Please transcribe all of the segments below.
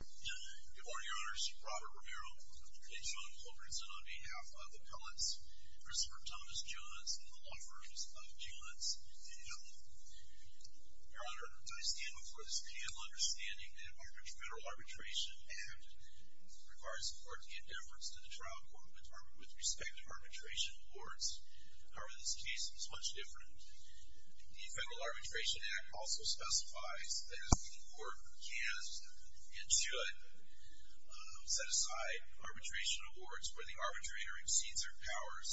Good morning, Your Honors. Robert Romero and Sean Culbertson on behalf of Appellants Christopher Thomas Johns and the Law Firms of Johns and Hill. Your Honor, I stand before this panel understanding that the Federal Arbitration Act requires the court to give deference to the trial court with respect to arbitration courts. However, this case is much different. The Federal Arbitration Act also specifies that the court can and should set aside arbitration awards where the arbitrator exceeds their powers,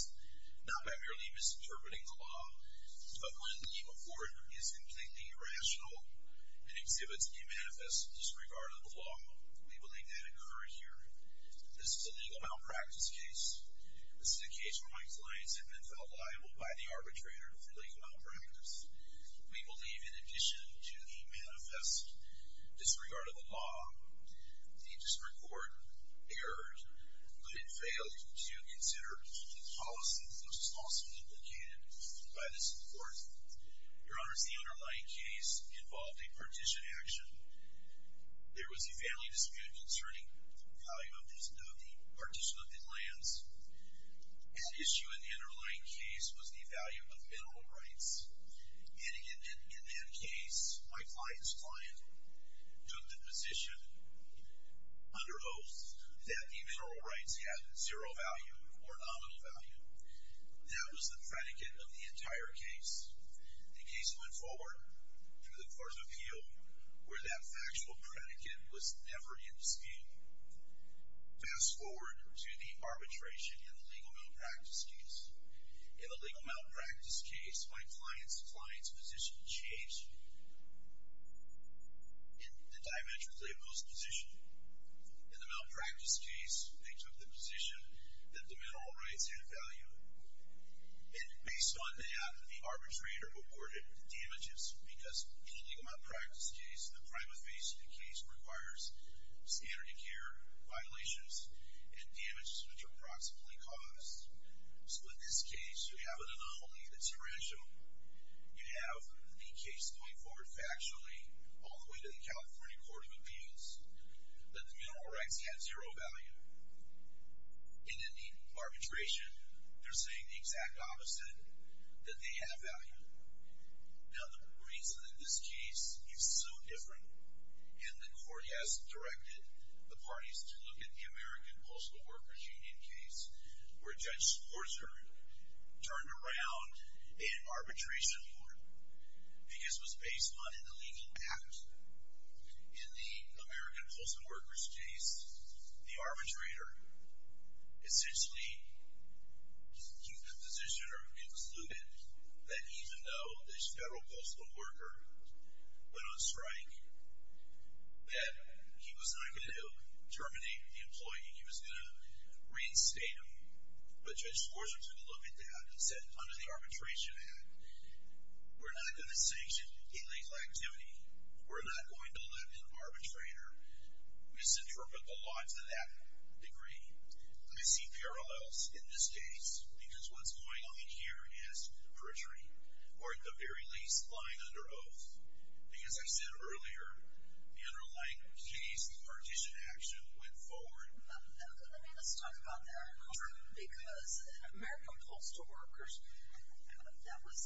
not by merely misinterpreting the law, but when the award is completely irrational and exhibits a manifest disregard of the law. We believe that occurred here. This is a legal malpractice case. This is a case where my clients have been felt liable by the arbitrator for legal malpractice. We believe in addition to the manifest disregard of the law, the district court erred, but it failed to consider the policy which was also implicated by this court. Your Honors, the underlying case involved a partition action. There was a family dispute concerning the value of the partition of the lands. At issue in the underlying case was the value of mineral rights, and in that case, my client's client took the position under oath that the mineral rights had zero value or nominal value. That was the predicate of the entire case. The case went forward through the court's appeal where that factual predicate was never in dispute. Fast forward to the arbitration in the legal malpractice case. In the legal malpractice case, my client's client's position changed in the diametrically opposed position. In the malpractice case, they took the position that the mineral rights had value, and based on that, the arbitrator awarded damages because in the legal malpractice case, the prima facie case requires standard of care violations and damages which are approximately caused. So in this case, you have an anomaly that's tarantula. You have the case going forward factually all the way to the California Court of Appeals that the mineral rights have zero value. And in the arbitration, they're saying the exact opposite, that they have value. Now, the reason that this case is so different, and the court has directed the parties to look at the American Postal Workers Union case where Judge Sporzer turned around in arbitration court because it was based on an illegal act. In the American Postal Workers case, the arbitrator essentially took the position or concluded that even though this federal postal worker went on strike, that he was not going to terminate the employee. He was going to reinstate him, but Judge Sporzer took a look at that and said, under the arbitration act, we're not going to sanction illegal activity. We're not going to let an arbitrator misinterpret the law to that degree. I see parallels in this case because what's going on in here is perjury, or at the very least, lying under oath. Because as I said earlier, the underlying case, the partition action, went forward. Let's talk about that. Because in American Postal Workers, that was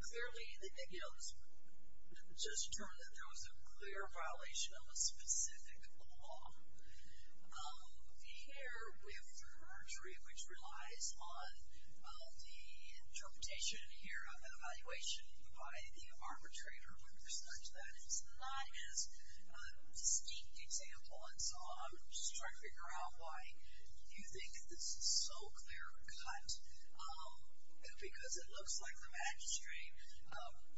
clearly, you know, it was just determined that there was a clear violation of a specific law. Here, we have perjury, which relies on the interpretation here of an evaluation by the arbitrator when there's such that. It's not as distinct example, and so I'm just trying to figure out why you think this is so clear-cut. Because it looks like the magistrate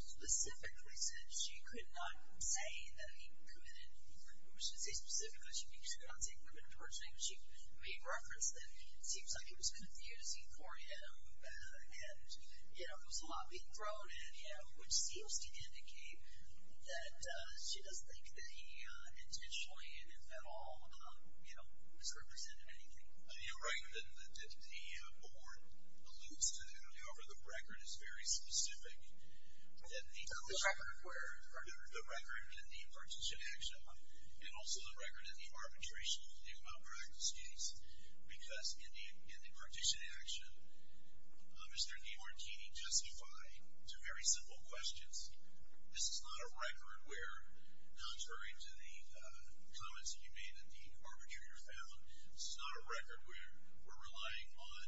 specifically said she could not say that he committed perjury. She made reference that it seems like it was confusing for him and, you know, there was a lot being thrown at him, which seems to indicate that she doesn't think that he intentionally and if at all, you know, misrepresented anything. You're right that the board alludes to that. However, the record is very specific. The record where? The record in the partition action and also the record in the arbitration of the amount practice case. Because in the partition action, Mr. DeMartini justified two very simple questions. This is not a record where, contrary to the comments that you made that the arbitrator found, this is not a record where we're relying on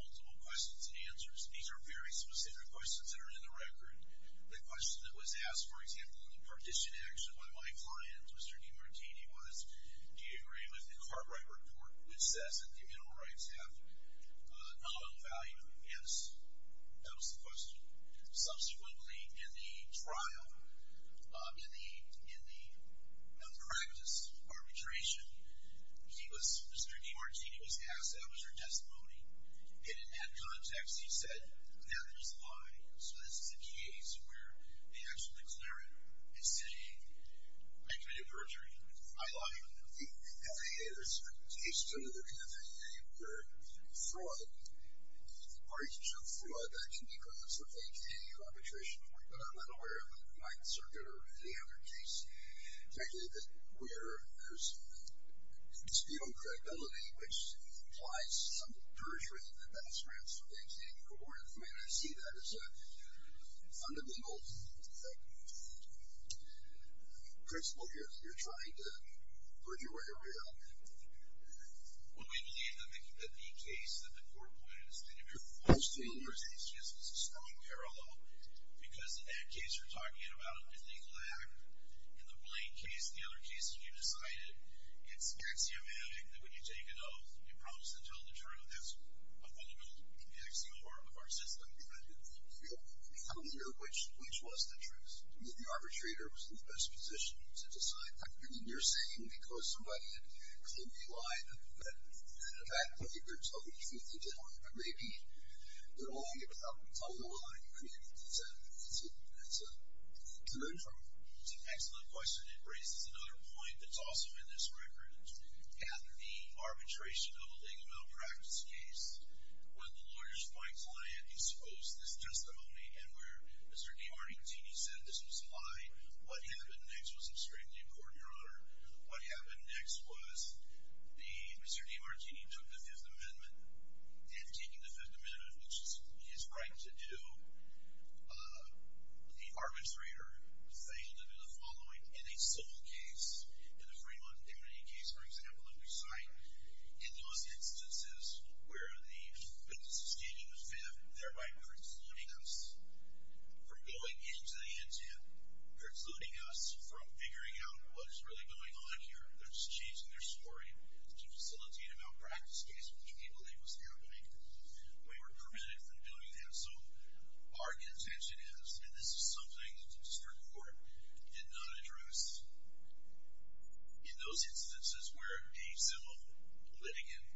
multiple questions and answers. These are very specific questions that are in the record. The question that was asked, for example, in the partition action by my client, Mr. DeMartini, was, do you agree with the Cartwright report which says that communal rights have nominal value? Yes, that was the question. Subsequently, in the trial, in the practice arbitration, he was, Mr. DeMartini was asked, that was her testimony. It didn't have context. He said, now there's a lie. So this is a case where the actual declarant is saying, I committed perjury. I lied. The FAA, there's a case under the FAA where fraud, partition fraud, that can be caused with any arbitration report. But I'm not aware of a wide circuit or any other case, particularly where there's dispute on credibility, which implies some perjury in the best interest of the extended cohort. I mean, I see that as an unlegal principle here. You're trying to perjure a real man. Well, we believe that the case that the court pointed is that if you're falsifying your state's case, it's a strong parallel because in that case you're talking about a illegal act. In the Blaine case, the other case that you decided, it's axiomatic that when you take an oath, you promise to tell the truth. That's a fundamental axiom of our system. I'm not clear which was the truth. I mean, the arbitrator was in the best position to decide that. And you're saying because somebody had clearly lied, that in effect, they're totally, completely telling the truth. Maybe they're only telling the lie. That's a good point. That's an excellent question. And it raises another point that's also in this record. At the arbitration of a legal malpractice case, when the lawyer's point client exposed this testimony and where Mr. DiMartini said this was a lie, what happened next was extremely important, Your Honor. What happened next was Mr. DiMartini took the Fifth Amendment and taking the Fifth Amendment, which is his right to do, the arbitrator failed to do the following. In a civil case, in the Fremont immunity case, for example, in which site, in those instances where the status was fifth, thereby precluding us from going into the intent, precluding us from figuring out what is really going on here, they're just changing their story to facilitate a malpractice case, which we believe was happening. We were prevented from doing that. So our contention is, and this is something Mr. Court did not address, in those instances where a civil litigant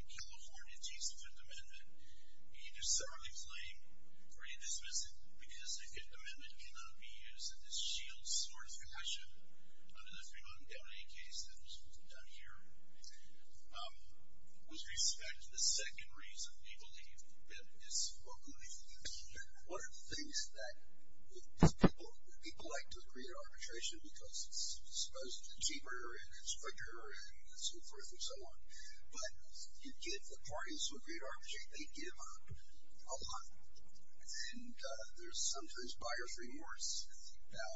in California teased the Fifth Amendment, he discerningly claimed or he dismissed it because the Fifth Amendment cannot be used in this shield sort of fashion under the Fremont immunity case that was done here. With respect to the second reason, we believe that it is spoken of. One of the things that people like to agree to arbitration because it's supposed to be cheaper and it's quicker and so forth and so on, but the parties who agree to arbitration, they give up a lot. And there's sometimes buyer's remorse. Now,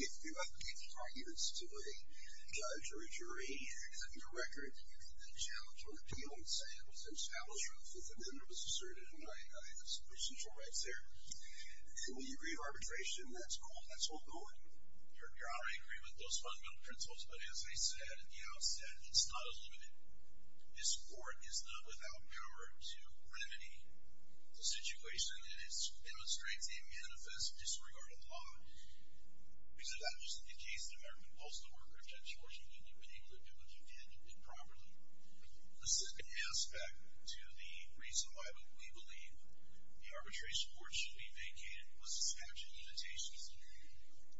if you have arguments to a judge or a jury, setting a record, challenge or appeal and say it was established or the Fifth Amendment was asserted and there's some essential rights there, and we agree to arbitration, that's cool, that's all good. You're already agreeing with those fundamental principles, but as I said at the outset, it's not a limit. This court is not without power to remedy the situation and it demonstrates a manifest disregard of law. Because if that wasn't the case, an American postal worker, a judge or a jury wouldn't have been able to do what you did and did properly. The second aspect to the reason why we believe the arbitration court should be vacated was the statute of limitations.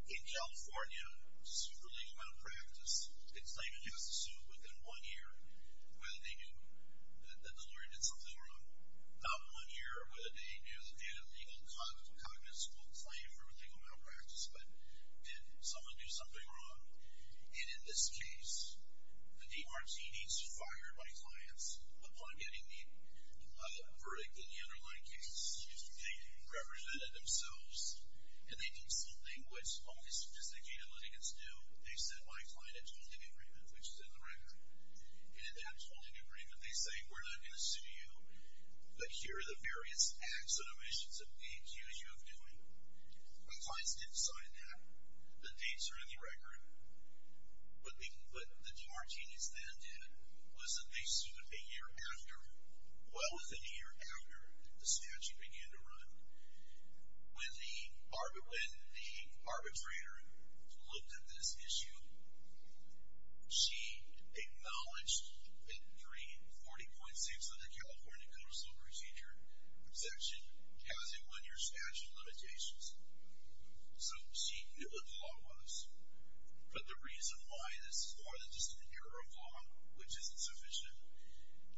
In California, superlegal malpractice, it's like it has to sue within one year whether they knew that the lawyer did something wrong. Not one year whether they knew that they had a legal, cognitive school claim for legal malpractice, but did someone do something wrong. And in this case, the DRT needs to fire my clients upon getting the verdict in the underlying case. They represented themselves and they did something which only sophisticated litigants do. They said my client had told an agreement, which is in the record. And in that told agreement, they say we're not going to sue you but here are the various acts and omissions that we accuse you of doing. My clients didn't sign that. The dates are in the record. What the DRTs then did was that they sued a year after, well within a year after the statute began to run. When the arbitrator looked at this issue, she acknowledged that 40.6 of the California Codicil Procedure section has a one-year statute of limitations. So she knew what the law was. But the reason why this is more than just an error of law, which isn't sufficient,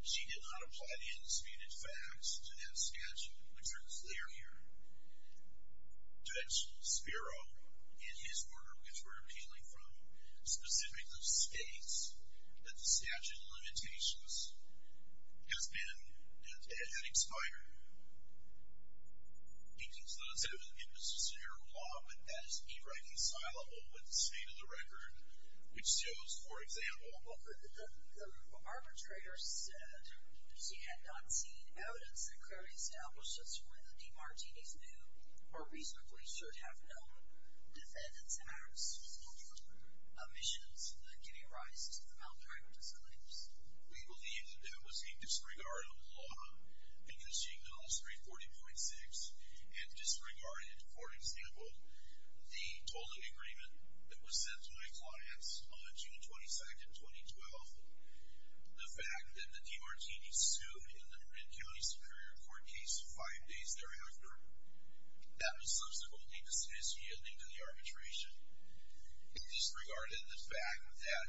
she did not apply the indisputed facts to that statute, which are clear here. Judge Spiro, in his order, which we're appealing from specifics of states, that the statute of limitations has been and had expired. He concludes that it was just an error of law, but that is irreconcilable with the state of the record, which shows, for example. Well, the arbitrator said she had not seen evidence that clearly established as to whether the DRTs knew or reasonably should have known defendants' actions or omissions that could have arisen from outright disclaims. We believe that that was a disregard of the law because she acknowledged 340.6 and disregarded, for example, the tolling agreement that was sent to my clients on June 22, 2012. The fact that the DRTs sued in the Red County Superior Court case five days thereafter, that was subsequently disassociated into the arbitration. Disregarded the fact that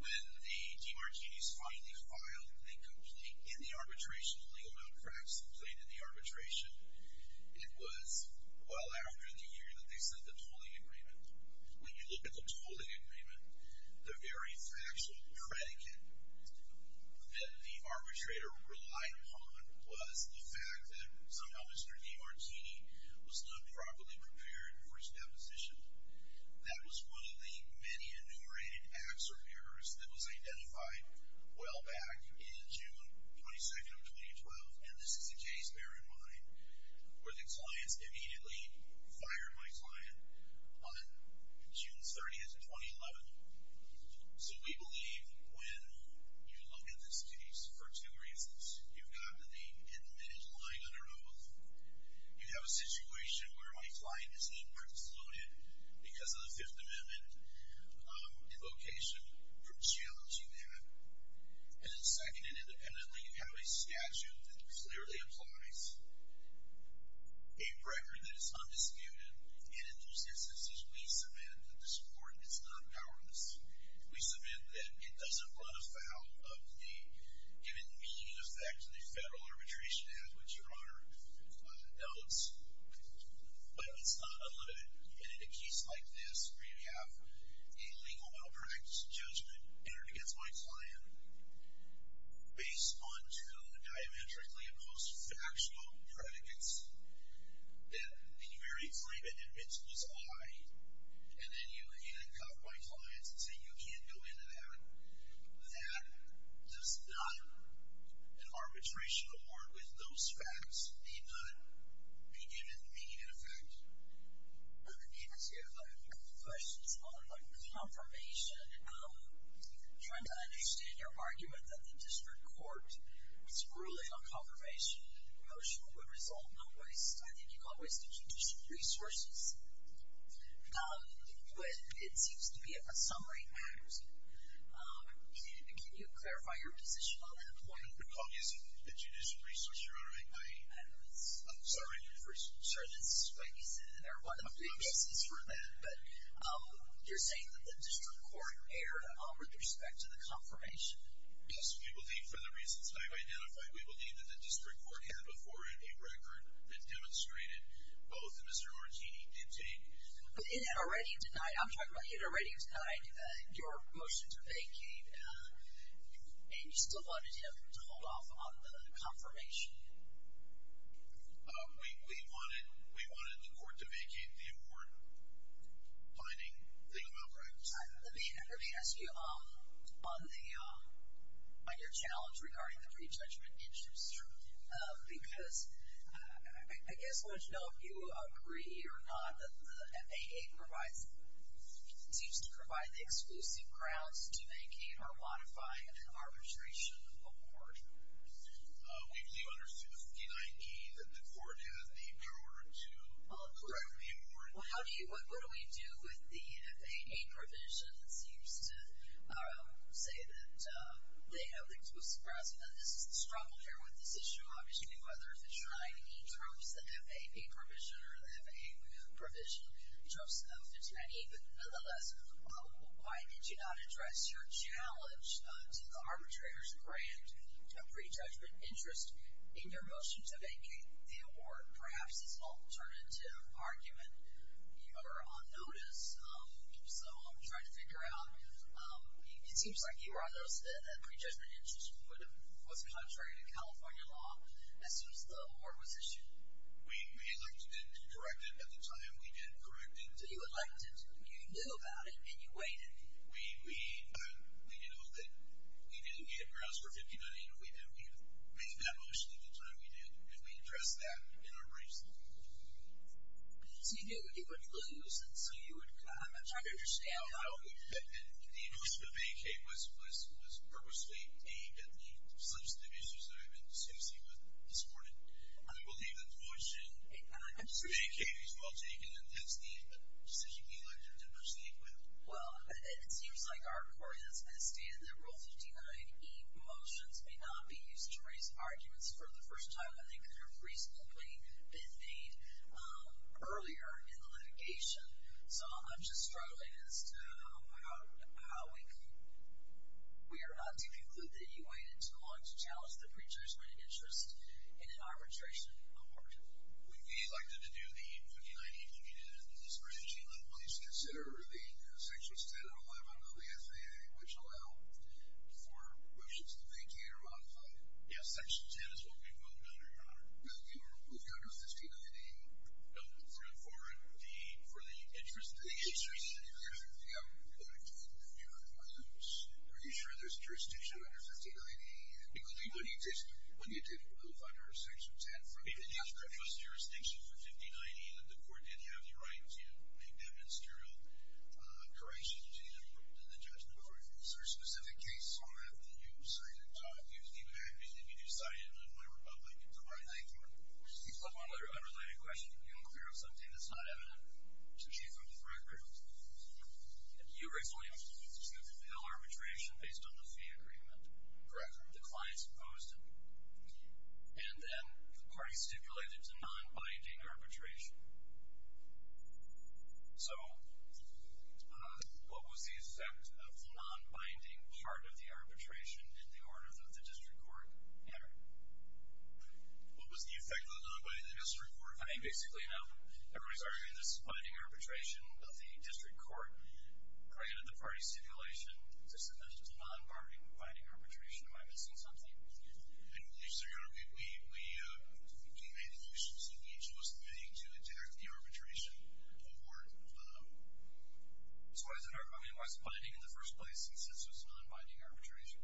when the DRTs finally filed a complete in the arbitration, a legal malpractice complaint in the arbitration, it was well after the year that they sent the tolling agreement. When you look at the tolling agreement, the very factual predicate that the arbitrator relied upon was the fact that somehow Mr. DiMartini was not properly prepared for his deposition. That was one of the many enumerated acts or errors that was identified well back in June 22, 2012, and this is a case bear in mind where the clients immediately fired my client on June 30, 2011. So we believe when you look at this case for two reasons. You've got the admitted lying under oath. You have a situation where my client is not participated because of the Fifth Amendment invocation or challenge you have. And then second and independently, you have a statute that clearly applies, a record that is undisputed, and in those instances, we submit that the support is not powerless. We submit that it doesn't run afoul of the given meaning and effect of the federal arbitration act, which Your Honor notes, but it's not unlimited. And in a case like this where you have a legal malpractice judgment entered against my client based on two diametrically opposed factual predicates that the very claimant admits was lying, and then you handcuff my clients and say, you can't go into that, that does not, an arbitration award with those facts need not be given meaning and effect. Yes, Your Honor. I have a couple questions on the confirmation. I'm trying to understand your argument that the district court's ruling on confirmation and promotion would result in a waste, I think you call a waste of judicial resources. It seems to be a summary act. Can you clarify your position on that point? The point isn't the judicial resources, Your Honor. I'm sorry. Sir, that's what you said, and there are a lot of excuses for that. But you're saying that the district court erred with respect to the confirmation. Yes, we believe, for the reasons I've identified, we believe that the district court had before it a record that demonstrated both, and Mr. Martini did take. But it had already denied, I'm talking about, it had already denied your motion to vacate, and you still wanted him to hold off on the confirmation. We wanted the court to vacate the important, defining thing about practice. Let me ask you on your challenge regarding the pre-judgment interest. Sure. Because I guess I want to know if you agree or not that the FAA seems to provide the exclusive grounds to vacate or modify an arbitration accord. We believe under 59E that the court has the power to correct the accord. Well, what do we do with the FAA provision that seems to say that they have the exclusive grounds? Now, this is the struggle here with this issue, obviously, whether 59E drops the FAA provision or the FAA provision drops 59E, but nonetheless, why did you not address your challenge to the arbitrator's grant of pre-judgment interest in your motion to vacate the award, perhaps as an alternative argument? You are on notice, so I'm trying to figure out. It seems like you were on notice that pre-judgment interest was contrary to California law as soon as the award was issued. We elected and corrected at the time we did correct it. You elected, you knew about it, and you waited. We knew that we didn't get grounds for 59E, and we didn't make that motion at the time we did. And we addressed that in our race. So you knew it would lose, and so you would... I'm not trying to understand. And the motion to vacate was purposely aimed at the substantive issues that I've been discussing with you this morning. I believe that the motion to vacate is well taken, and hence the decision we elected to proceed with. Well, it seems like our court has bested that Rule 59E motions may not be used to raise arguments for the first time that they could have reasonably been made earlier in the litigation. So I'm just struggling as to how we can... We are not to conclude that you waited too long to challenge the pre-judgment interest in an arbitration court. We elected to do the 59E opinion in this branch, and then please consider the sections 10 and 11 of the FAA, which allow for motions to vacate or modify it. Yes, section 10 is what we moved under, Your Honor. Well, you moved under 59E. No, for the interest... The interest. Yeah. Are you sure there's jurisdiction under 59E? Because when you did move under section 10, for the interest of jurisdiction for 59E, the court did have the right to make that ministerial correction to the judgment. Is there a specific case on that that you cited? If you do cite it, in my republic, it's a right. Thank you. One other unrelated question. Are you unclear of something that's not evident? To the Chief of the Threat Group. You originally instituted the ill-arbitration based on the fee agreement. Correct. The clients opposed it, and then the party stipulated it's a non-binding arbitration. So what was the effect of the non-binding part of the arbitration in the order that the district court entered? What was the effect of the non-binding in the district court? I mean, basically, you know, everybody's arguing this is binding arbitration, but the district court granted the party stipulation to submit a non-binding arbitration. Am I missing something? I believe so, Your Honor. We made the decision that each of us committing to adhere to the arbitration award. So why is it binding in the first place since it's a non-binding arbitration?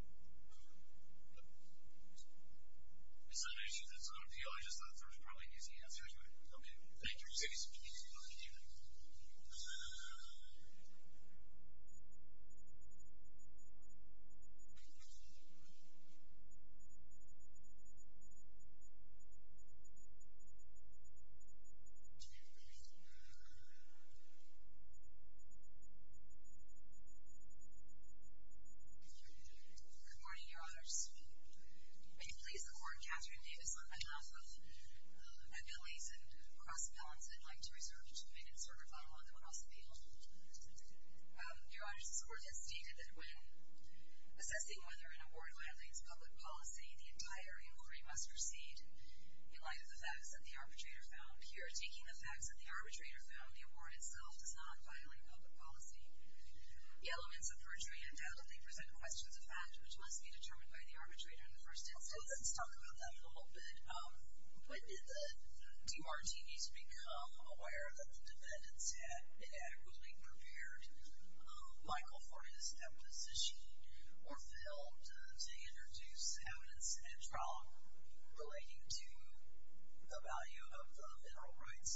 It's not an issue that's unreal, it's just that there's probably an easy answer to it. Okay, thank you. Good morning, Your Honors. May it please the Court, Catherine Davis, on behalf of Abilities and Cross-Balance, I'd like to reserve two minutes for rebuttal on the possible appeal. Your Honor, this Court has stated that when assessing whether an award violates public policy, the entire inquiry must proceed in light of the facts that the arbitrator found. Here, taking the facts that the arbitrator found, the award itself does not violate public policy. The elements of perjury undoubtedly present questions of fact which must be determined by the arbitrator in the first instance. Let's talk about that a little bit. When did the DRTs become aware that the defendants had adequately prepared Michael for his deposition or failed to introduce evidence at trial relating to the value of mineral rights?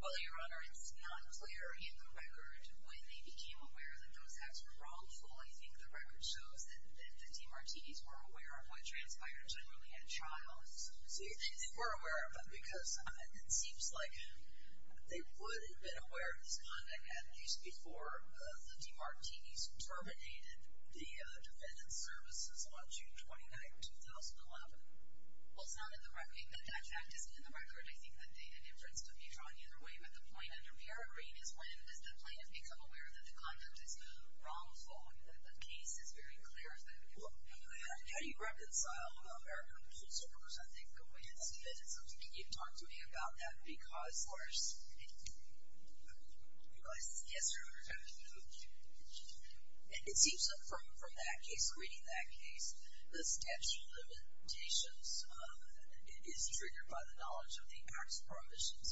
Well, Your Honor, it's not clear in the record. When they became aware that those facts were wrongful, I think the record shows that the DRTs were aware of what transpired generally at trial. So you think they were aware of it because it seems like they would have been aware of this conduct at least before the DRTs terminated the defendant's services on June 29, 2011. Well, it's not in the record. That fact isn't in the record. I think that the inference could be drawn either way. But the point under peregrine is when does the plaintiff become aware that the conduct is wrongful? I mean, the case is very clear that it would be wrongful. How do you reconcile American principles, I think, with feminism? Can you talk to me about that? Yes, Your Honor. It seems that from that case, reading that case, the statute of limitations is triggered by the knowledge of the acts or omissions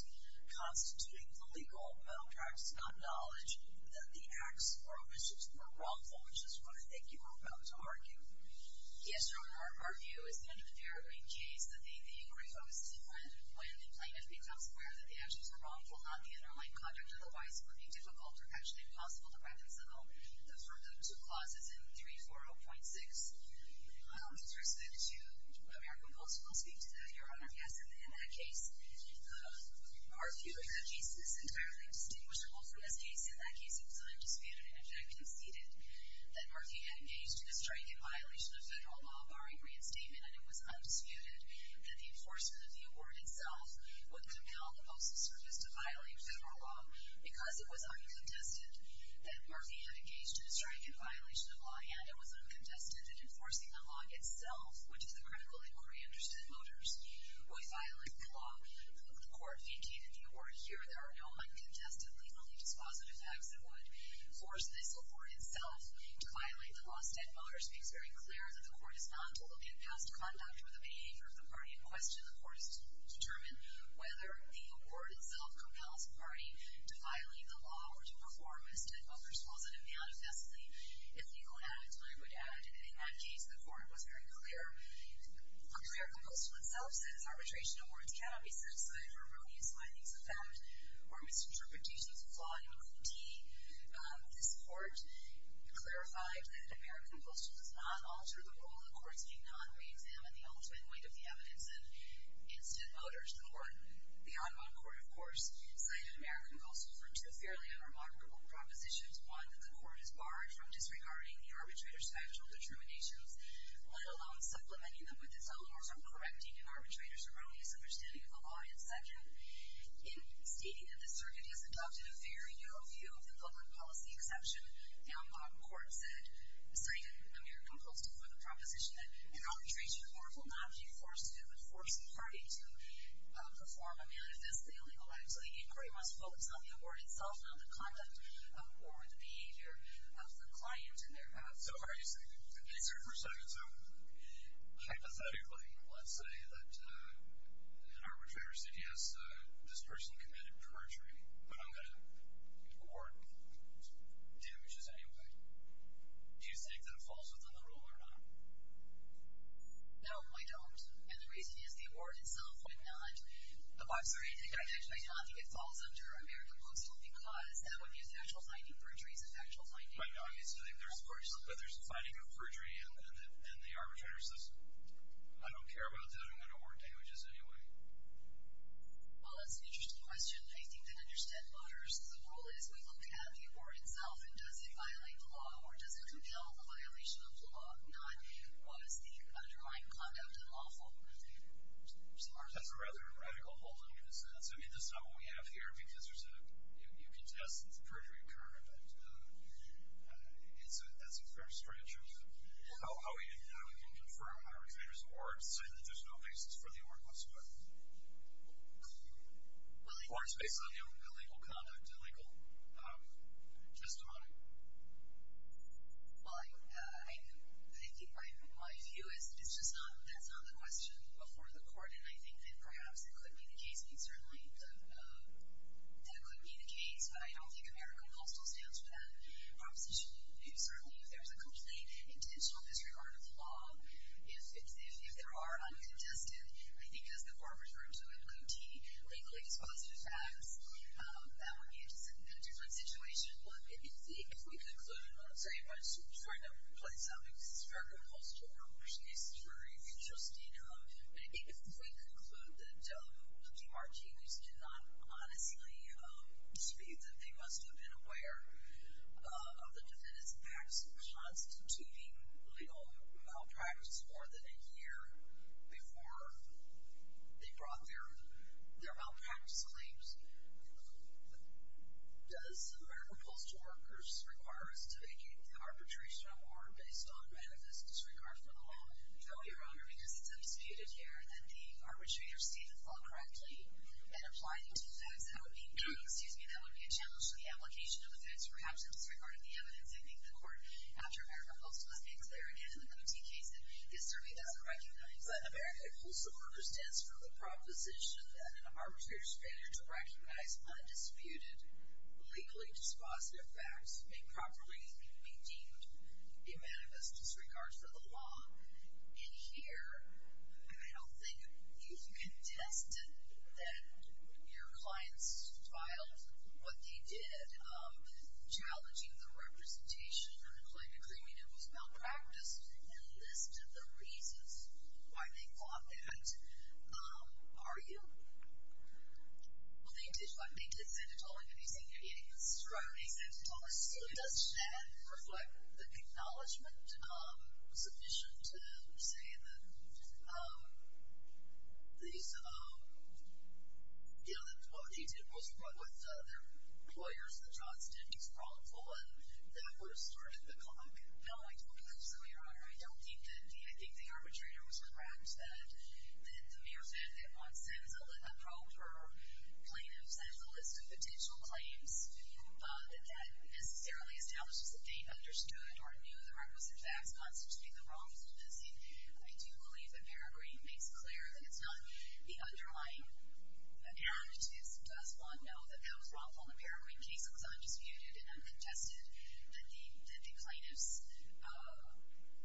constituting the legal malpractice, not knowledge that the acts or omissions were wrongful, which is what I think you are about to argue. Yes, Your Honor. Our view is that under the peregrine case, the inquiry focuses on when the plaintiff becomes aware that the actions were wrongful, not the underlying conduct, otherwise it would be difficult or actually impossible to reconcile the two clauses in 340.6. With respect to American Post, we'll speak to that, Your Honor. Yes, in that case, our view is that the case is entirely distinguishable from this case. In that case, it was undisputed, in fact, conceded, that Murphy had engaged in a strike in violation of federal law barring reinstatement, and it was undisputed that the enforcement of the award itself would compel the Postal Service to violate federal law because it was uncontested that Murphy had engaged in a strike in violation of law, and it was uncontested that enforcing the law itself, which is the critical inquiry under Steadmotors, would violate the law. The Court vacated the award here. There are no uncontested, legally dispositive acts that would force this award itself to violate the law. Steadmotors makes very clear that the Court is not to look at past conduct or the behavior of the party in question. The Court is to determine whether the award itself compels the party to violate the law or to perform, as Steadmotors calls it, manifestly, illegal acts. I would add, in that case, the Court was very clear. The American Postal itself said its arbitration awards cannot be set aside for ruinous findings, offense, or misinterpretations of law and duty. This Court clarified that American Postal does not alter the rule. The Courts do not re-examine the ultimate weight of the evidence in Steadmotors. The court, the Enron Court, of course, cited American Postal for two fairly unremarkable propositions. One, that the Court is barred from disregarding the arbitrator's factual determinations, let alone supplementing them with its own, or from correcting an arbitrator's erroneous understanding of the law. And second, in stating that the circuit has adopted a very narrow view of the public policy exception, the Enron Court cited American Postal for the proposition that an arbitration award will not be forced to do but force the party to perform a manifestly illegal act. So the inquiry must focus on the award itself, not the conduct or the behavior of the client in their past. So are you saying... Excuse me for a second. So, hypothetically, let's say that an arbitrator said, yes, this person committed perjury, but I'm going to award damages anyway. Do you think that falls within the rule or not? No, I don't. And the reason is the award itself would not... I'm sorry, I actually do not think it falls under American Postal because that would be a factual finding. Perjury is a factual finding. I know. But there's the finding of perjury, and the arbitrator says, I don't care about that. I'm going to award damages anyway. Well, that's an interesting question. I think that, understand voters, the rule is we look at the award itself, and does it violate the law, or does it compel the violation of the law, not what is the underlying conduct and lawful? That's a rather radical whole in a sense. I mean, that's not what we have here, because you can test the perjury occurred, and so that's a fair stretch of how we can confirm an arbitrator's award, saying that there's no basis for the award whatsoever. Or it's based on illegal conduct, illegal testimony. Well, I think my view is it's just not, that's not the question before the court, and I think that perhaps that could be the case. I mean, certainly that could be the case, but I don't think American Postal stands for that proposition. Certainly, if there's a complete intentional disregard of the law, if there are uncontested, I think as the former referred to it, co-t, legally dispositive acts, that would be a different situation. Well, if we could include it, I'm sorry if I'm trying to play something. This is American Postal, which is very interesting. If we conclude that the Martinez's did not honestly dispute that they must have been aware of the defendant's acts constituting legal malpractice more than a year before they brought their malpractice claims, does American Postal Workers require us to make an arbitration award based on manifest disregard for the law? No, Your Honor, because it's undisputed here that the arbitrator stated the law correctly and applied it to the facts. That would be, excuse me, that would be a challenge to the application of the facts, perhaps in disregard of the evidence. I think the court, after American Postal, has made clear again in the co-t case that it certainly doesn't recognize that American Postal Workers stands for the proposition that an arbitrator's failure to recognize undisputed, legally dispositive facts may properly be deemed a manifest disregard for the law. And here, I don't think you've contested that your clients filed what they did, challenging the representation and the claim to claiming it was malpractice and listed the reasons why they fought that. Are you? Well, they did, what? They did say that all of these things. Right. Does that reflect the acknowledgment sufficient to say that these, you know, that what they did was wrong with their employers, the jobs they did was wrongful, and that would have started the clock? No, I don't think so, Your Honor. I don't think that the, I think the arbitrator was correct that the mere fact that one sends a probe for plaintiffs and sends a list of potential claims, that that necessarily establishes that they understood or knew the requisite facts constituting the wrongful dismissing. I do believe that Peregrine makes clear that it's not the underlying act. It does want to know that that was wrongful and the Peregrine case was undisputed and uncontested, that the plaintiffs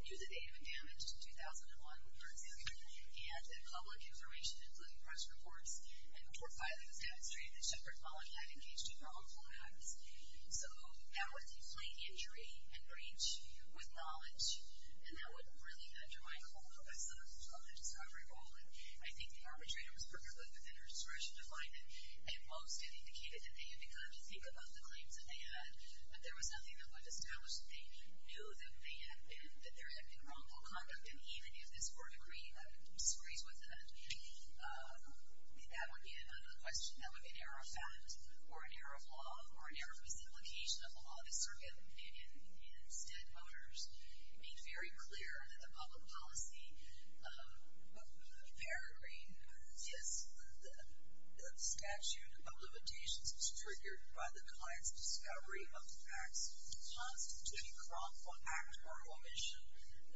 knew that they had been damaged in 2001, for example, and that public information, including press reports and court filing has demonstrated that Shepard Pollock had engaged in wrongful acts. So that was a plain injury and breach with knowledge, and that would really undermine the whole process of the discovery roll, and I think the arbitrator was perfectly within her discretion to find it. At most, it indicated that they had begun to think about the claims that they had, but there was nothing that would establish that they knew that they had been, that there had been wrongful conduct, and even if this were a decree that disagrees with it, that would be another question. That would be an error of fact or an error of law or an error of simplification of the law. The Circuit of Opinion and Stead voters made very clear that the public policy of Peregrine is that the statute of limitations is triggered by the client's discovery of facts constituting wrongful act or omission,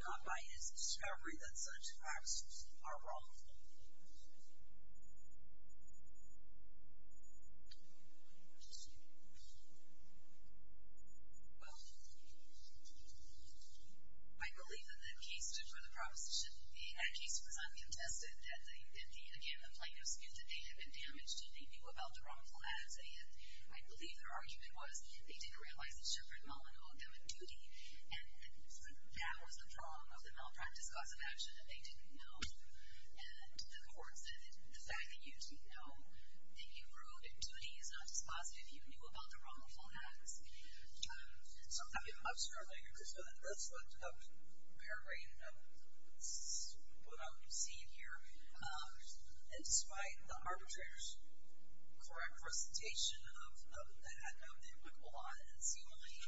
not by his discovery that such acts are wrongful. I believe that the case for the proposition, the ad case was uncontested, that they, again, the plaintiffs knew that they had been damaged and they knew about the wrongful acts, and I believe their argument was they didn't realize that Shepard Mullen owed them a duty, and that was the prong of the malpractice cause of action, that they didn't know. And the court said that the fact that you didn't know that he owed a duty is not dispositive. You knew about the wrongful acts. I'm struggling because that's what Peregrine, what I'm seeing here, and despite the arbitrator's correct presentation of the ad note, they look a lot and seemingly,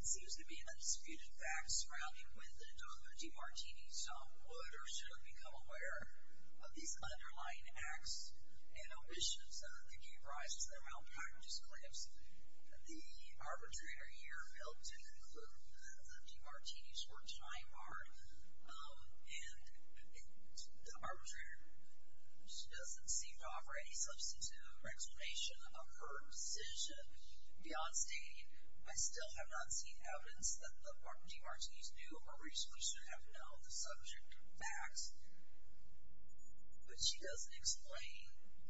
it seems to be an undisputed fact surrounding when the DeMartinis would or should have become aware of these underlying acts and omissions that gave rise to the malpractice claims. The arbitrator here failed to conclude that the DeMartinis were time barred, and the arbitrator just doesn't seem to offer any substitute or explanation of her decision beyond stating, I still have not seen evidence that the DeMartinis knew or reasonably should have known the subject of the facts, but she doesn't explain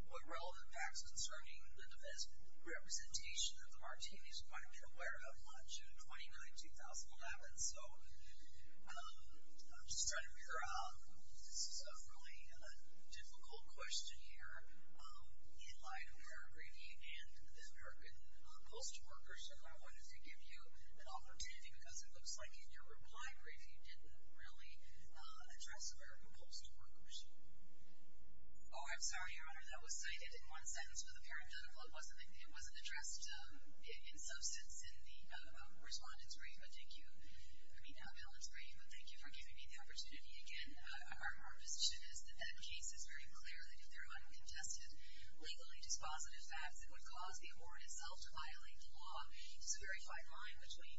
what relevant facts concerning the defense representation that the Martinis might have been aware of on June 29, 2011. So, I'm just trying to figure out, this is a really difficult question here. In light of your briefie and the American Post workers, if I wanted to give you an opportunity, because it looks like in your reply brief, you didn't really address American Post workers. Oh, I'm sorry, Your Honor, that was cited in one sentence, but apparently it wasn't addressed in substance in the respondent's brief. Your Honor, thank you. I mean, that balance is great, but thank you for giving me the opportunity again. Our position is that that case is very clear, that if there are uncontested, legally dispositive facts that would cause the award itself to violate the law, there's a very fine line between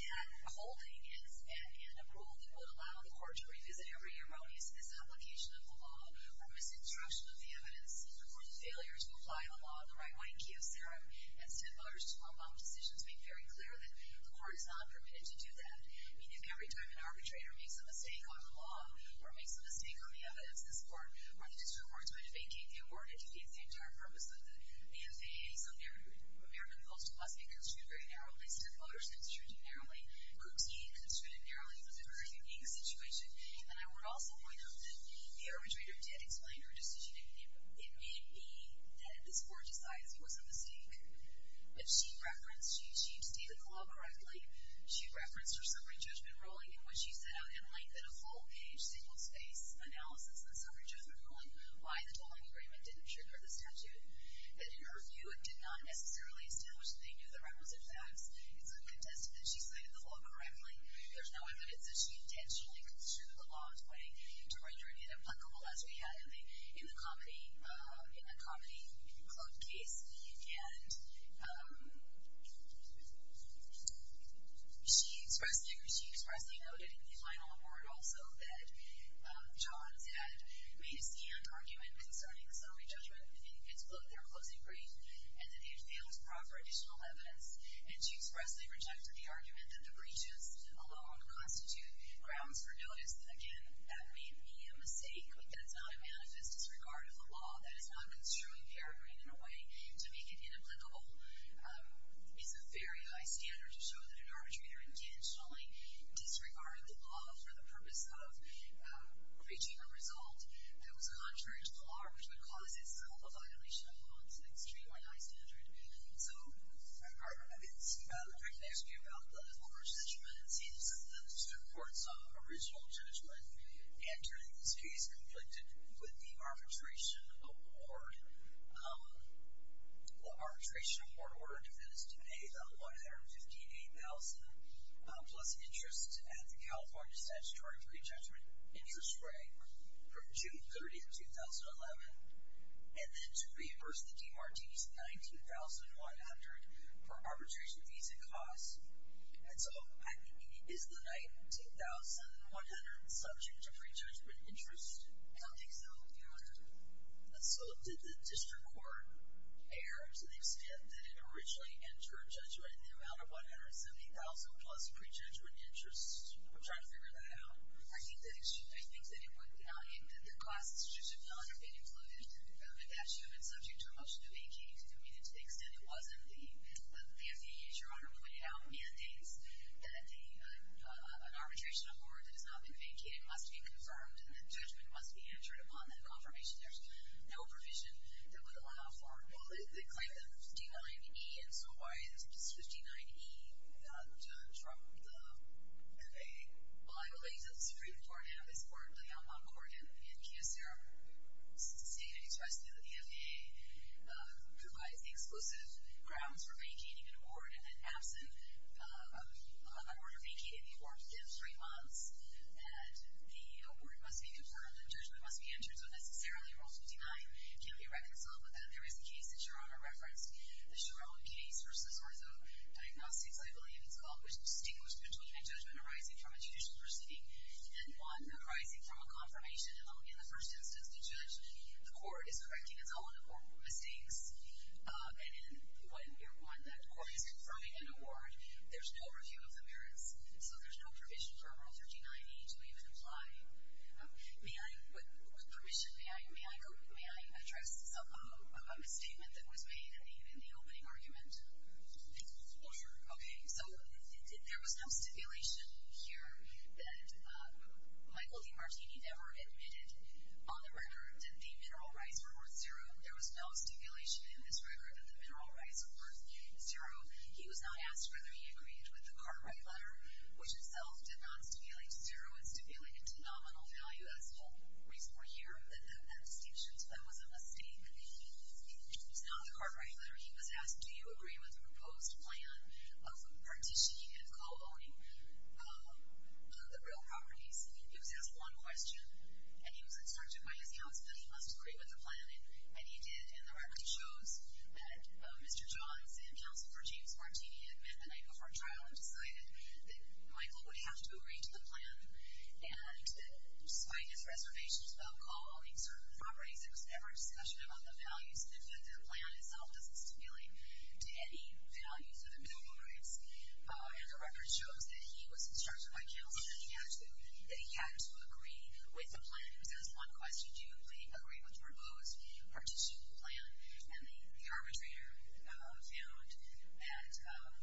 that holding and approval that would allow the court to revisit every erroneous misapplication of the law or misconstruction of the evidence, or the failure to apply the law in the right way. Thank you, Sarah. And Steph Motors' 12-month decision to make very clear that the court is not permitted to do that. I mean, if every time an arbitrator makes a mistake on the law or makes a mistake on the evidence, this court or the district court is going to vacate the award if it defeats the entire purpose of the FAA. So American Post must be construed very narrowly. Steph Motors construed it narrowly. Kuti construed it narrowly. It was a very unique situation. And I would also point out that the arbitrator did explain her decision. It may be that this court decided it was a mistake. But she referenced, she stated the law correctly. She referenced her summary judgment ruling in which she set out in length in a full-page, single-space analysis of the summary judgment ruling why the tolling agreement didn't trigger the statute. And in her view, it did not necessarily establish that they knew the requisite facts. It's uncontested that she cited the law correctly. There's no evidence that she intentionally construed the law in a way to render it inapplicable as we had in the context of the comedy club case. And she expressly noted in the final award also that Johns had made a scanned argument concerning the summary judgment in its book, their closing brief, and that they had failed to proffer additional evidence. And she expressly rejected the argument that the breaches alone constitute grounds for notice. Again, that may be a mistake. But that's not a manifest disregard of the law. That is not construing Peregrine in a way to make it inapplicable. It's a very high standard to show that an arbitrator intentionally disregarded the law for the purpose of reaching a result that was contrary to the law or which would cause this. It's called a violation of law. It's an extremely high standard. So I can ask you about the former judgment. It seems that the Supreme Court's original judgment entering this case conflicted with the arbitration award. The arbitration award order that is to pay the $158,000 plus interest at the California Statutory Prejudgment Interest Rate from June 30, 2011, and then to reimburse the DMR-TVC $19,100 for arbitration fees and costs. So is the $19,100 subject to prejudgment interest? I don't think so, Your Honor. So did the district court err to the extent that it originally entered judgment in the amount of $170,000 plus prejudgment interest? I'm trying to figure that out. I think that it should. I think that the costs should not have been included. That should have been subject to a motion to make. To the extent it wasn't, the FAA, as Your Honor pointed out, mandates that an arbitration award that has not been vacated must be confirmed and that judgment must be entered upon that confirmation. There's no provision that would allow for it. Well, they claim the 59E, and so why is 59E not from the FAA? Well, I believe that the Supreme Court and, basically, the FAA provides the exclusive grounds for vacating an award, and then absent of that order vacating the award within three months, that the award must be confirmed and judgment must be entered, so necessarily, Rule 59 can't be reconciled with that. There is a case that Your Honor referenced, the Chiron case versus Ortho Diagnostics, I believe it's called, which distinguished between a judgment arising from a judicial proceeding and one arising from a confirmation. In the first instance, the court is correcting its own mistakes, and when you're one, that court is confirming an award. There's no review of the merits, so there's no provision for a Rule 59E to even apply. With permission, may I address a statement that was made in the opening argument? Oh, sure. Okay, so there was no stipulation here that Michael D. Martini ever admitted on the record that the mineral rights were worth zero. There was no stipulation in this record that the mineral rights were worth zero. He was not asked whether he agreed with the Cartwright letter, which itself did not stipulate zero. It stipulated a nominal value as the whole reason we're here. That distinction, so that was a mistake. It's not the Cartwright letter. He was asked, do you agree with the proposed plan of partitioning and co-owning the real properties? He was asked one question, and he was instructed by his counsel that he must agree with the plan, and he did, and the record shows that Mr. Johns and Counselor James Martini had met the night before trial and decided that Michael would have to agree to the plan. And despite his reservations about co-owning certain properties, there was never a discussion about the values. The plan itself doesn't stipulate to any values of the mineral rights, and the record shows that he was instructed by counsel that he had to agree with the plan. He was asked one question, do you agree with the proposed partition plan? And the arbitrator found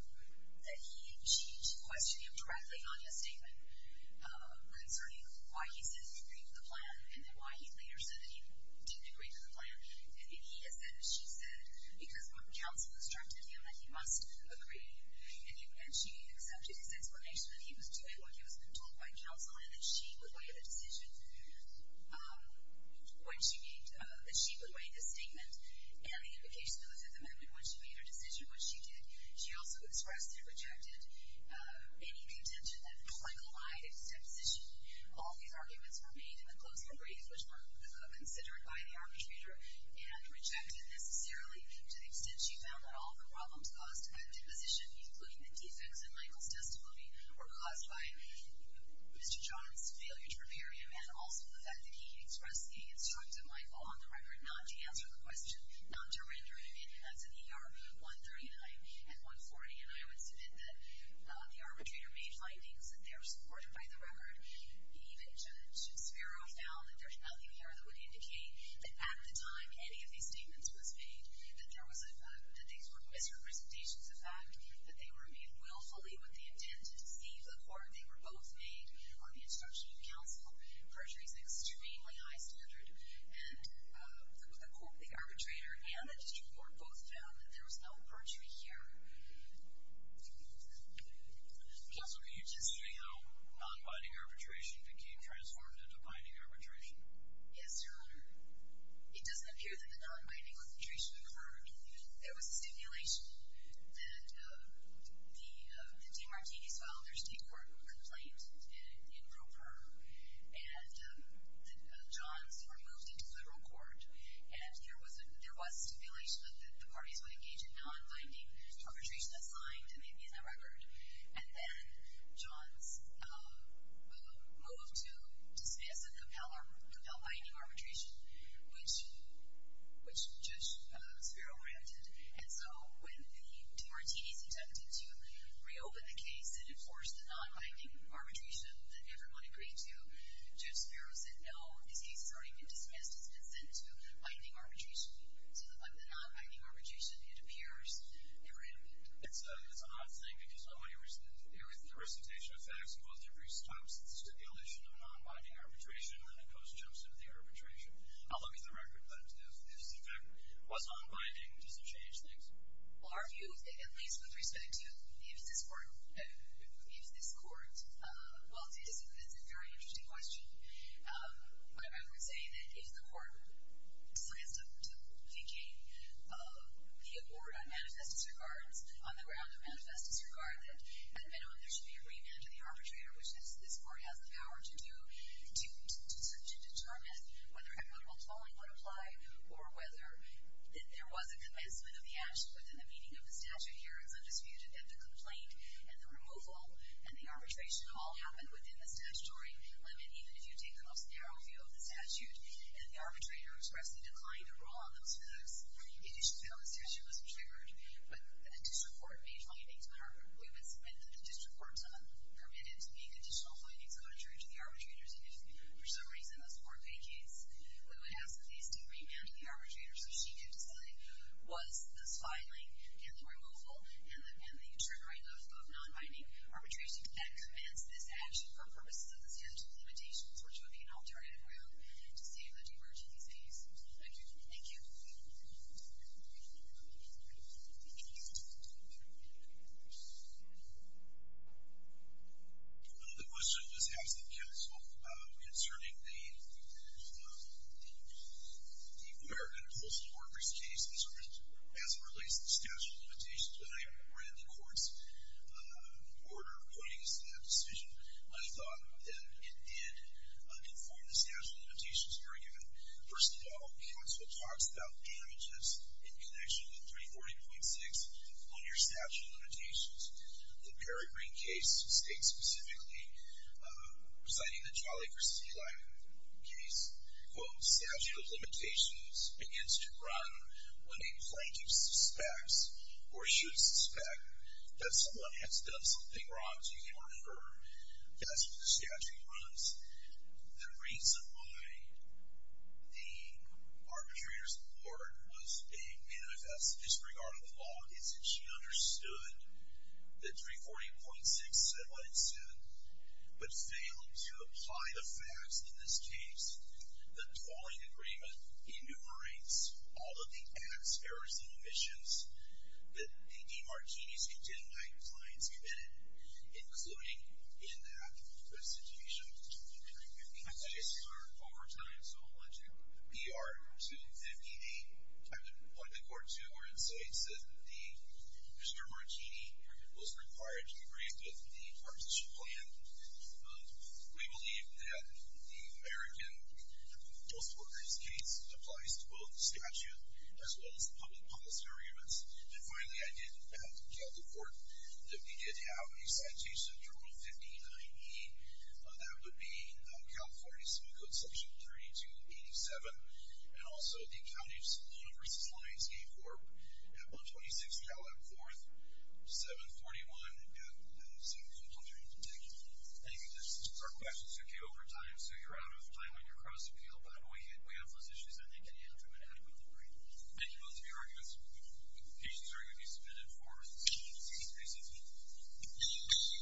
that she questioned him directly on his statement concerning why he said he agreed with the plan and then why he later said that he didn't agree with the plan. And he has said that she said because what counsel instructed him that he must agree, and she accepted his explanation that he was doing what he was being told by counsel and that she would weigh the decision when she made, that she would weigh his statement and the implication of the Fifth Amendment when she made her decision, what she did. She also expressed and rejected any contention that Michael lied in his deposition. All these arguments were made in the closing of briefs, which were considered by the arbitrator and rejected necessarily to the extent she found that all the problems caused at deposition, including the defects in Michael's testimony, were caused by Mr. John's failure to prepare him and also the fact that he had expressed the instruction of Michael on the record not to answer the question, not to render him in. And that's in ER 139 and 140. And I would submit that the arbitrator made findings that they were supported by the record. Even Judge Spiro found that there's nothing there that would indicate that at the time any of these statements was made, that there was a, that these were misrepresentations of fact, that they were made willfully with the intent to deceive the court. They were both made on the instruction of counsel. Perjury is an extremely high standard. And the arbitrator and the district court both found that there was no perjury here. Counsel, can you just say how nonbinding arbitration became transformed into binding arbitration? Yes, Your Honor. It doesn't appear that the nonbinding arbitration occurred. There was a stipulation that the Demartini's filed their state court complaint in pro per, and that Johns were moved into federal court. And there was a stipulation that the parties would engage in nonbinding arbitration as signed and maybe in the record. And then Johns moved to dismiss and compel binding arbitration, which Judge Spiro granted. And so when the Demartini's attempted to reopen the case and enforce the nonbinding arbitration that everyone agreed to, Judge Spiro said, no, this case has already been dismissed. It's been sent to binding arbitration. So the nonbinding arbitration, it appears, never happened. It's an odd thing because with the recitation of facts, both the brief stops at the stipulation of nonbinding arbitration, and then it post jumps into the arbitration. I'll look at the record, but if this effect was nonbinding, does it change things? Well, our view, at least with respect to if this court, well, it's a very interesting question. But I would say that if the court decides to vacate the award on manifest disregard, on the ground of manifest disregard, then there should be agreement with the arbitrator, which this court has the power to do, to determine whether equitable tolling would apply or whether there was a commencement of the action within the meaning of the statute. Here, it's undisputed that the complaint and the removal and the arbitration all happened within the statutory limit. Even if you take an austere view of the statute and the arbitrator expressed a decline in rule on those facts, you should know the statute wasn't triggered. But the district court made findings. We would submit that the district court permitted to make additional findings contrary to the arbitrator's initiative. For some reason, this court vacates. We would ask, please, to remand to the arbitrator so she can decide was this filing and the removal and the triggering of non-binding arbitration that commenced this action for purposes of the statute's limitations, which would be an alternative route to save the divergencies. Thank you. Thank you. Thank you. The question was asked of counsel concerning the American Postal Workers case as it relates to the statute of limitations. When I read the court's order pointing us to that decision, I thought that it did conform to the statute of limitations argument. First of all, counsel talks about damages in connection with 340.6 on your statute of limitations. The Perry Green case states specifically, citing the Jolly for Sea Life case, quote, statute of limitations begins to run when a plaintiff suspects or should suspect that someone has done something wrong to your firm. That's what the statute runs. The reason why the arbitrator's court was a manifest disregard of the law is that she understood that 340.6 said what it said, but failed to apply the facts in this case. The tolling agreement enumerates all of the acts, errors, and omissions that A.D. Martini's contingent clients committed, including in that situation. The cases are overtime, so I'll let you BR 258. I would point the court to our insights that Mr. Martini was required to agree with the partition plan. We believe that the American Postal Workers case applies to both the statute as well as the public policy arguments. And finally, I did have to tell the court that we did have a citation, Terminal 59E. That would be California Civil Code Section 3287, and also the County Saloon vs. Lions Game Corp. AB 126, Caleb 4th, 741, and 7412. Thank you. Those are our questions. Okay, overtime. So you're out of time on your cross-appeal. By the way, we have those issues. I think you answered them adequately. Thank you. Those are your arguments. The cases are going to be submitted for the subpoenas. Thank you. Thank you.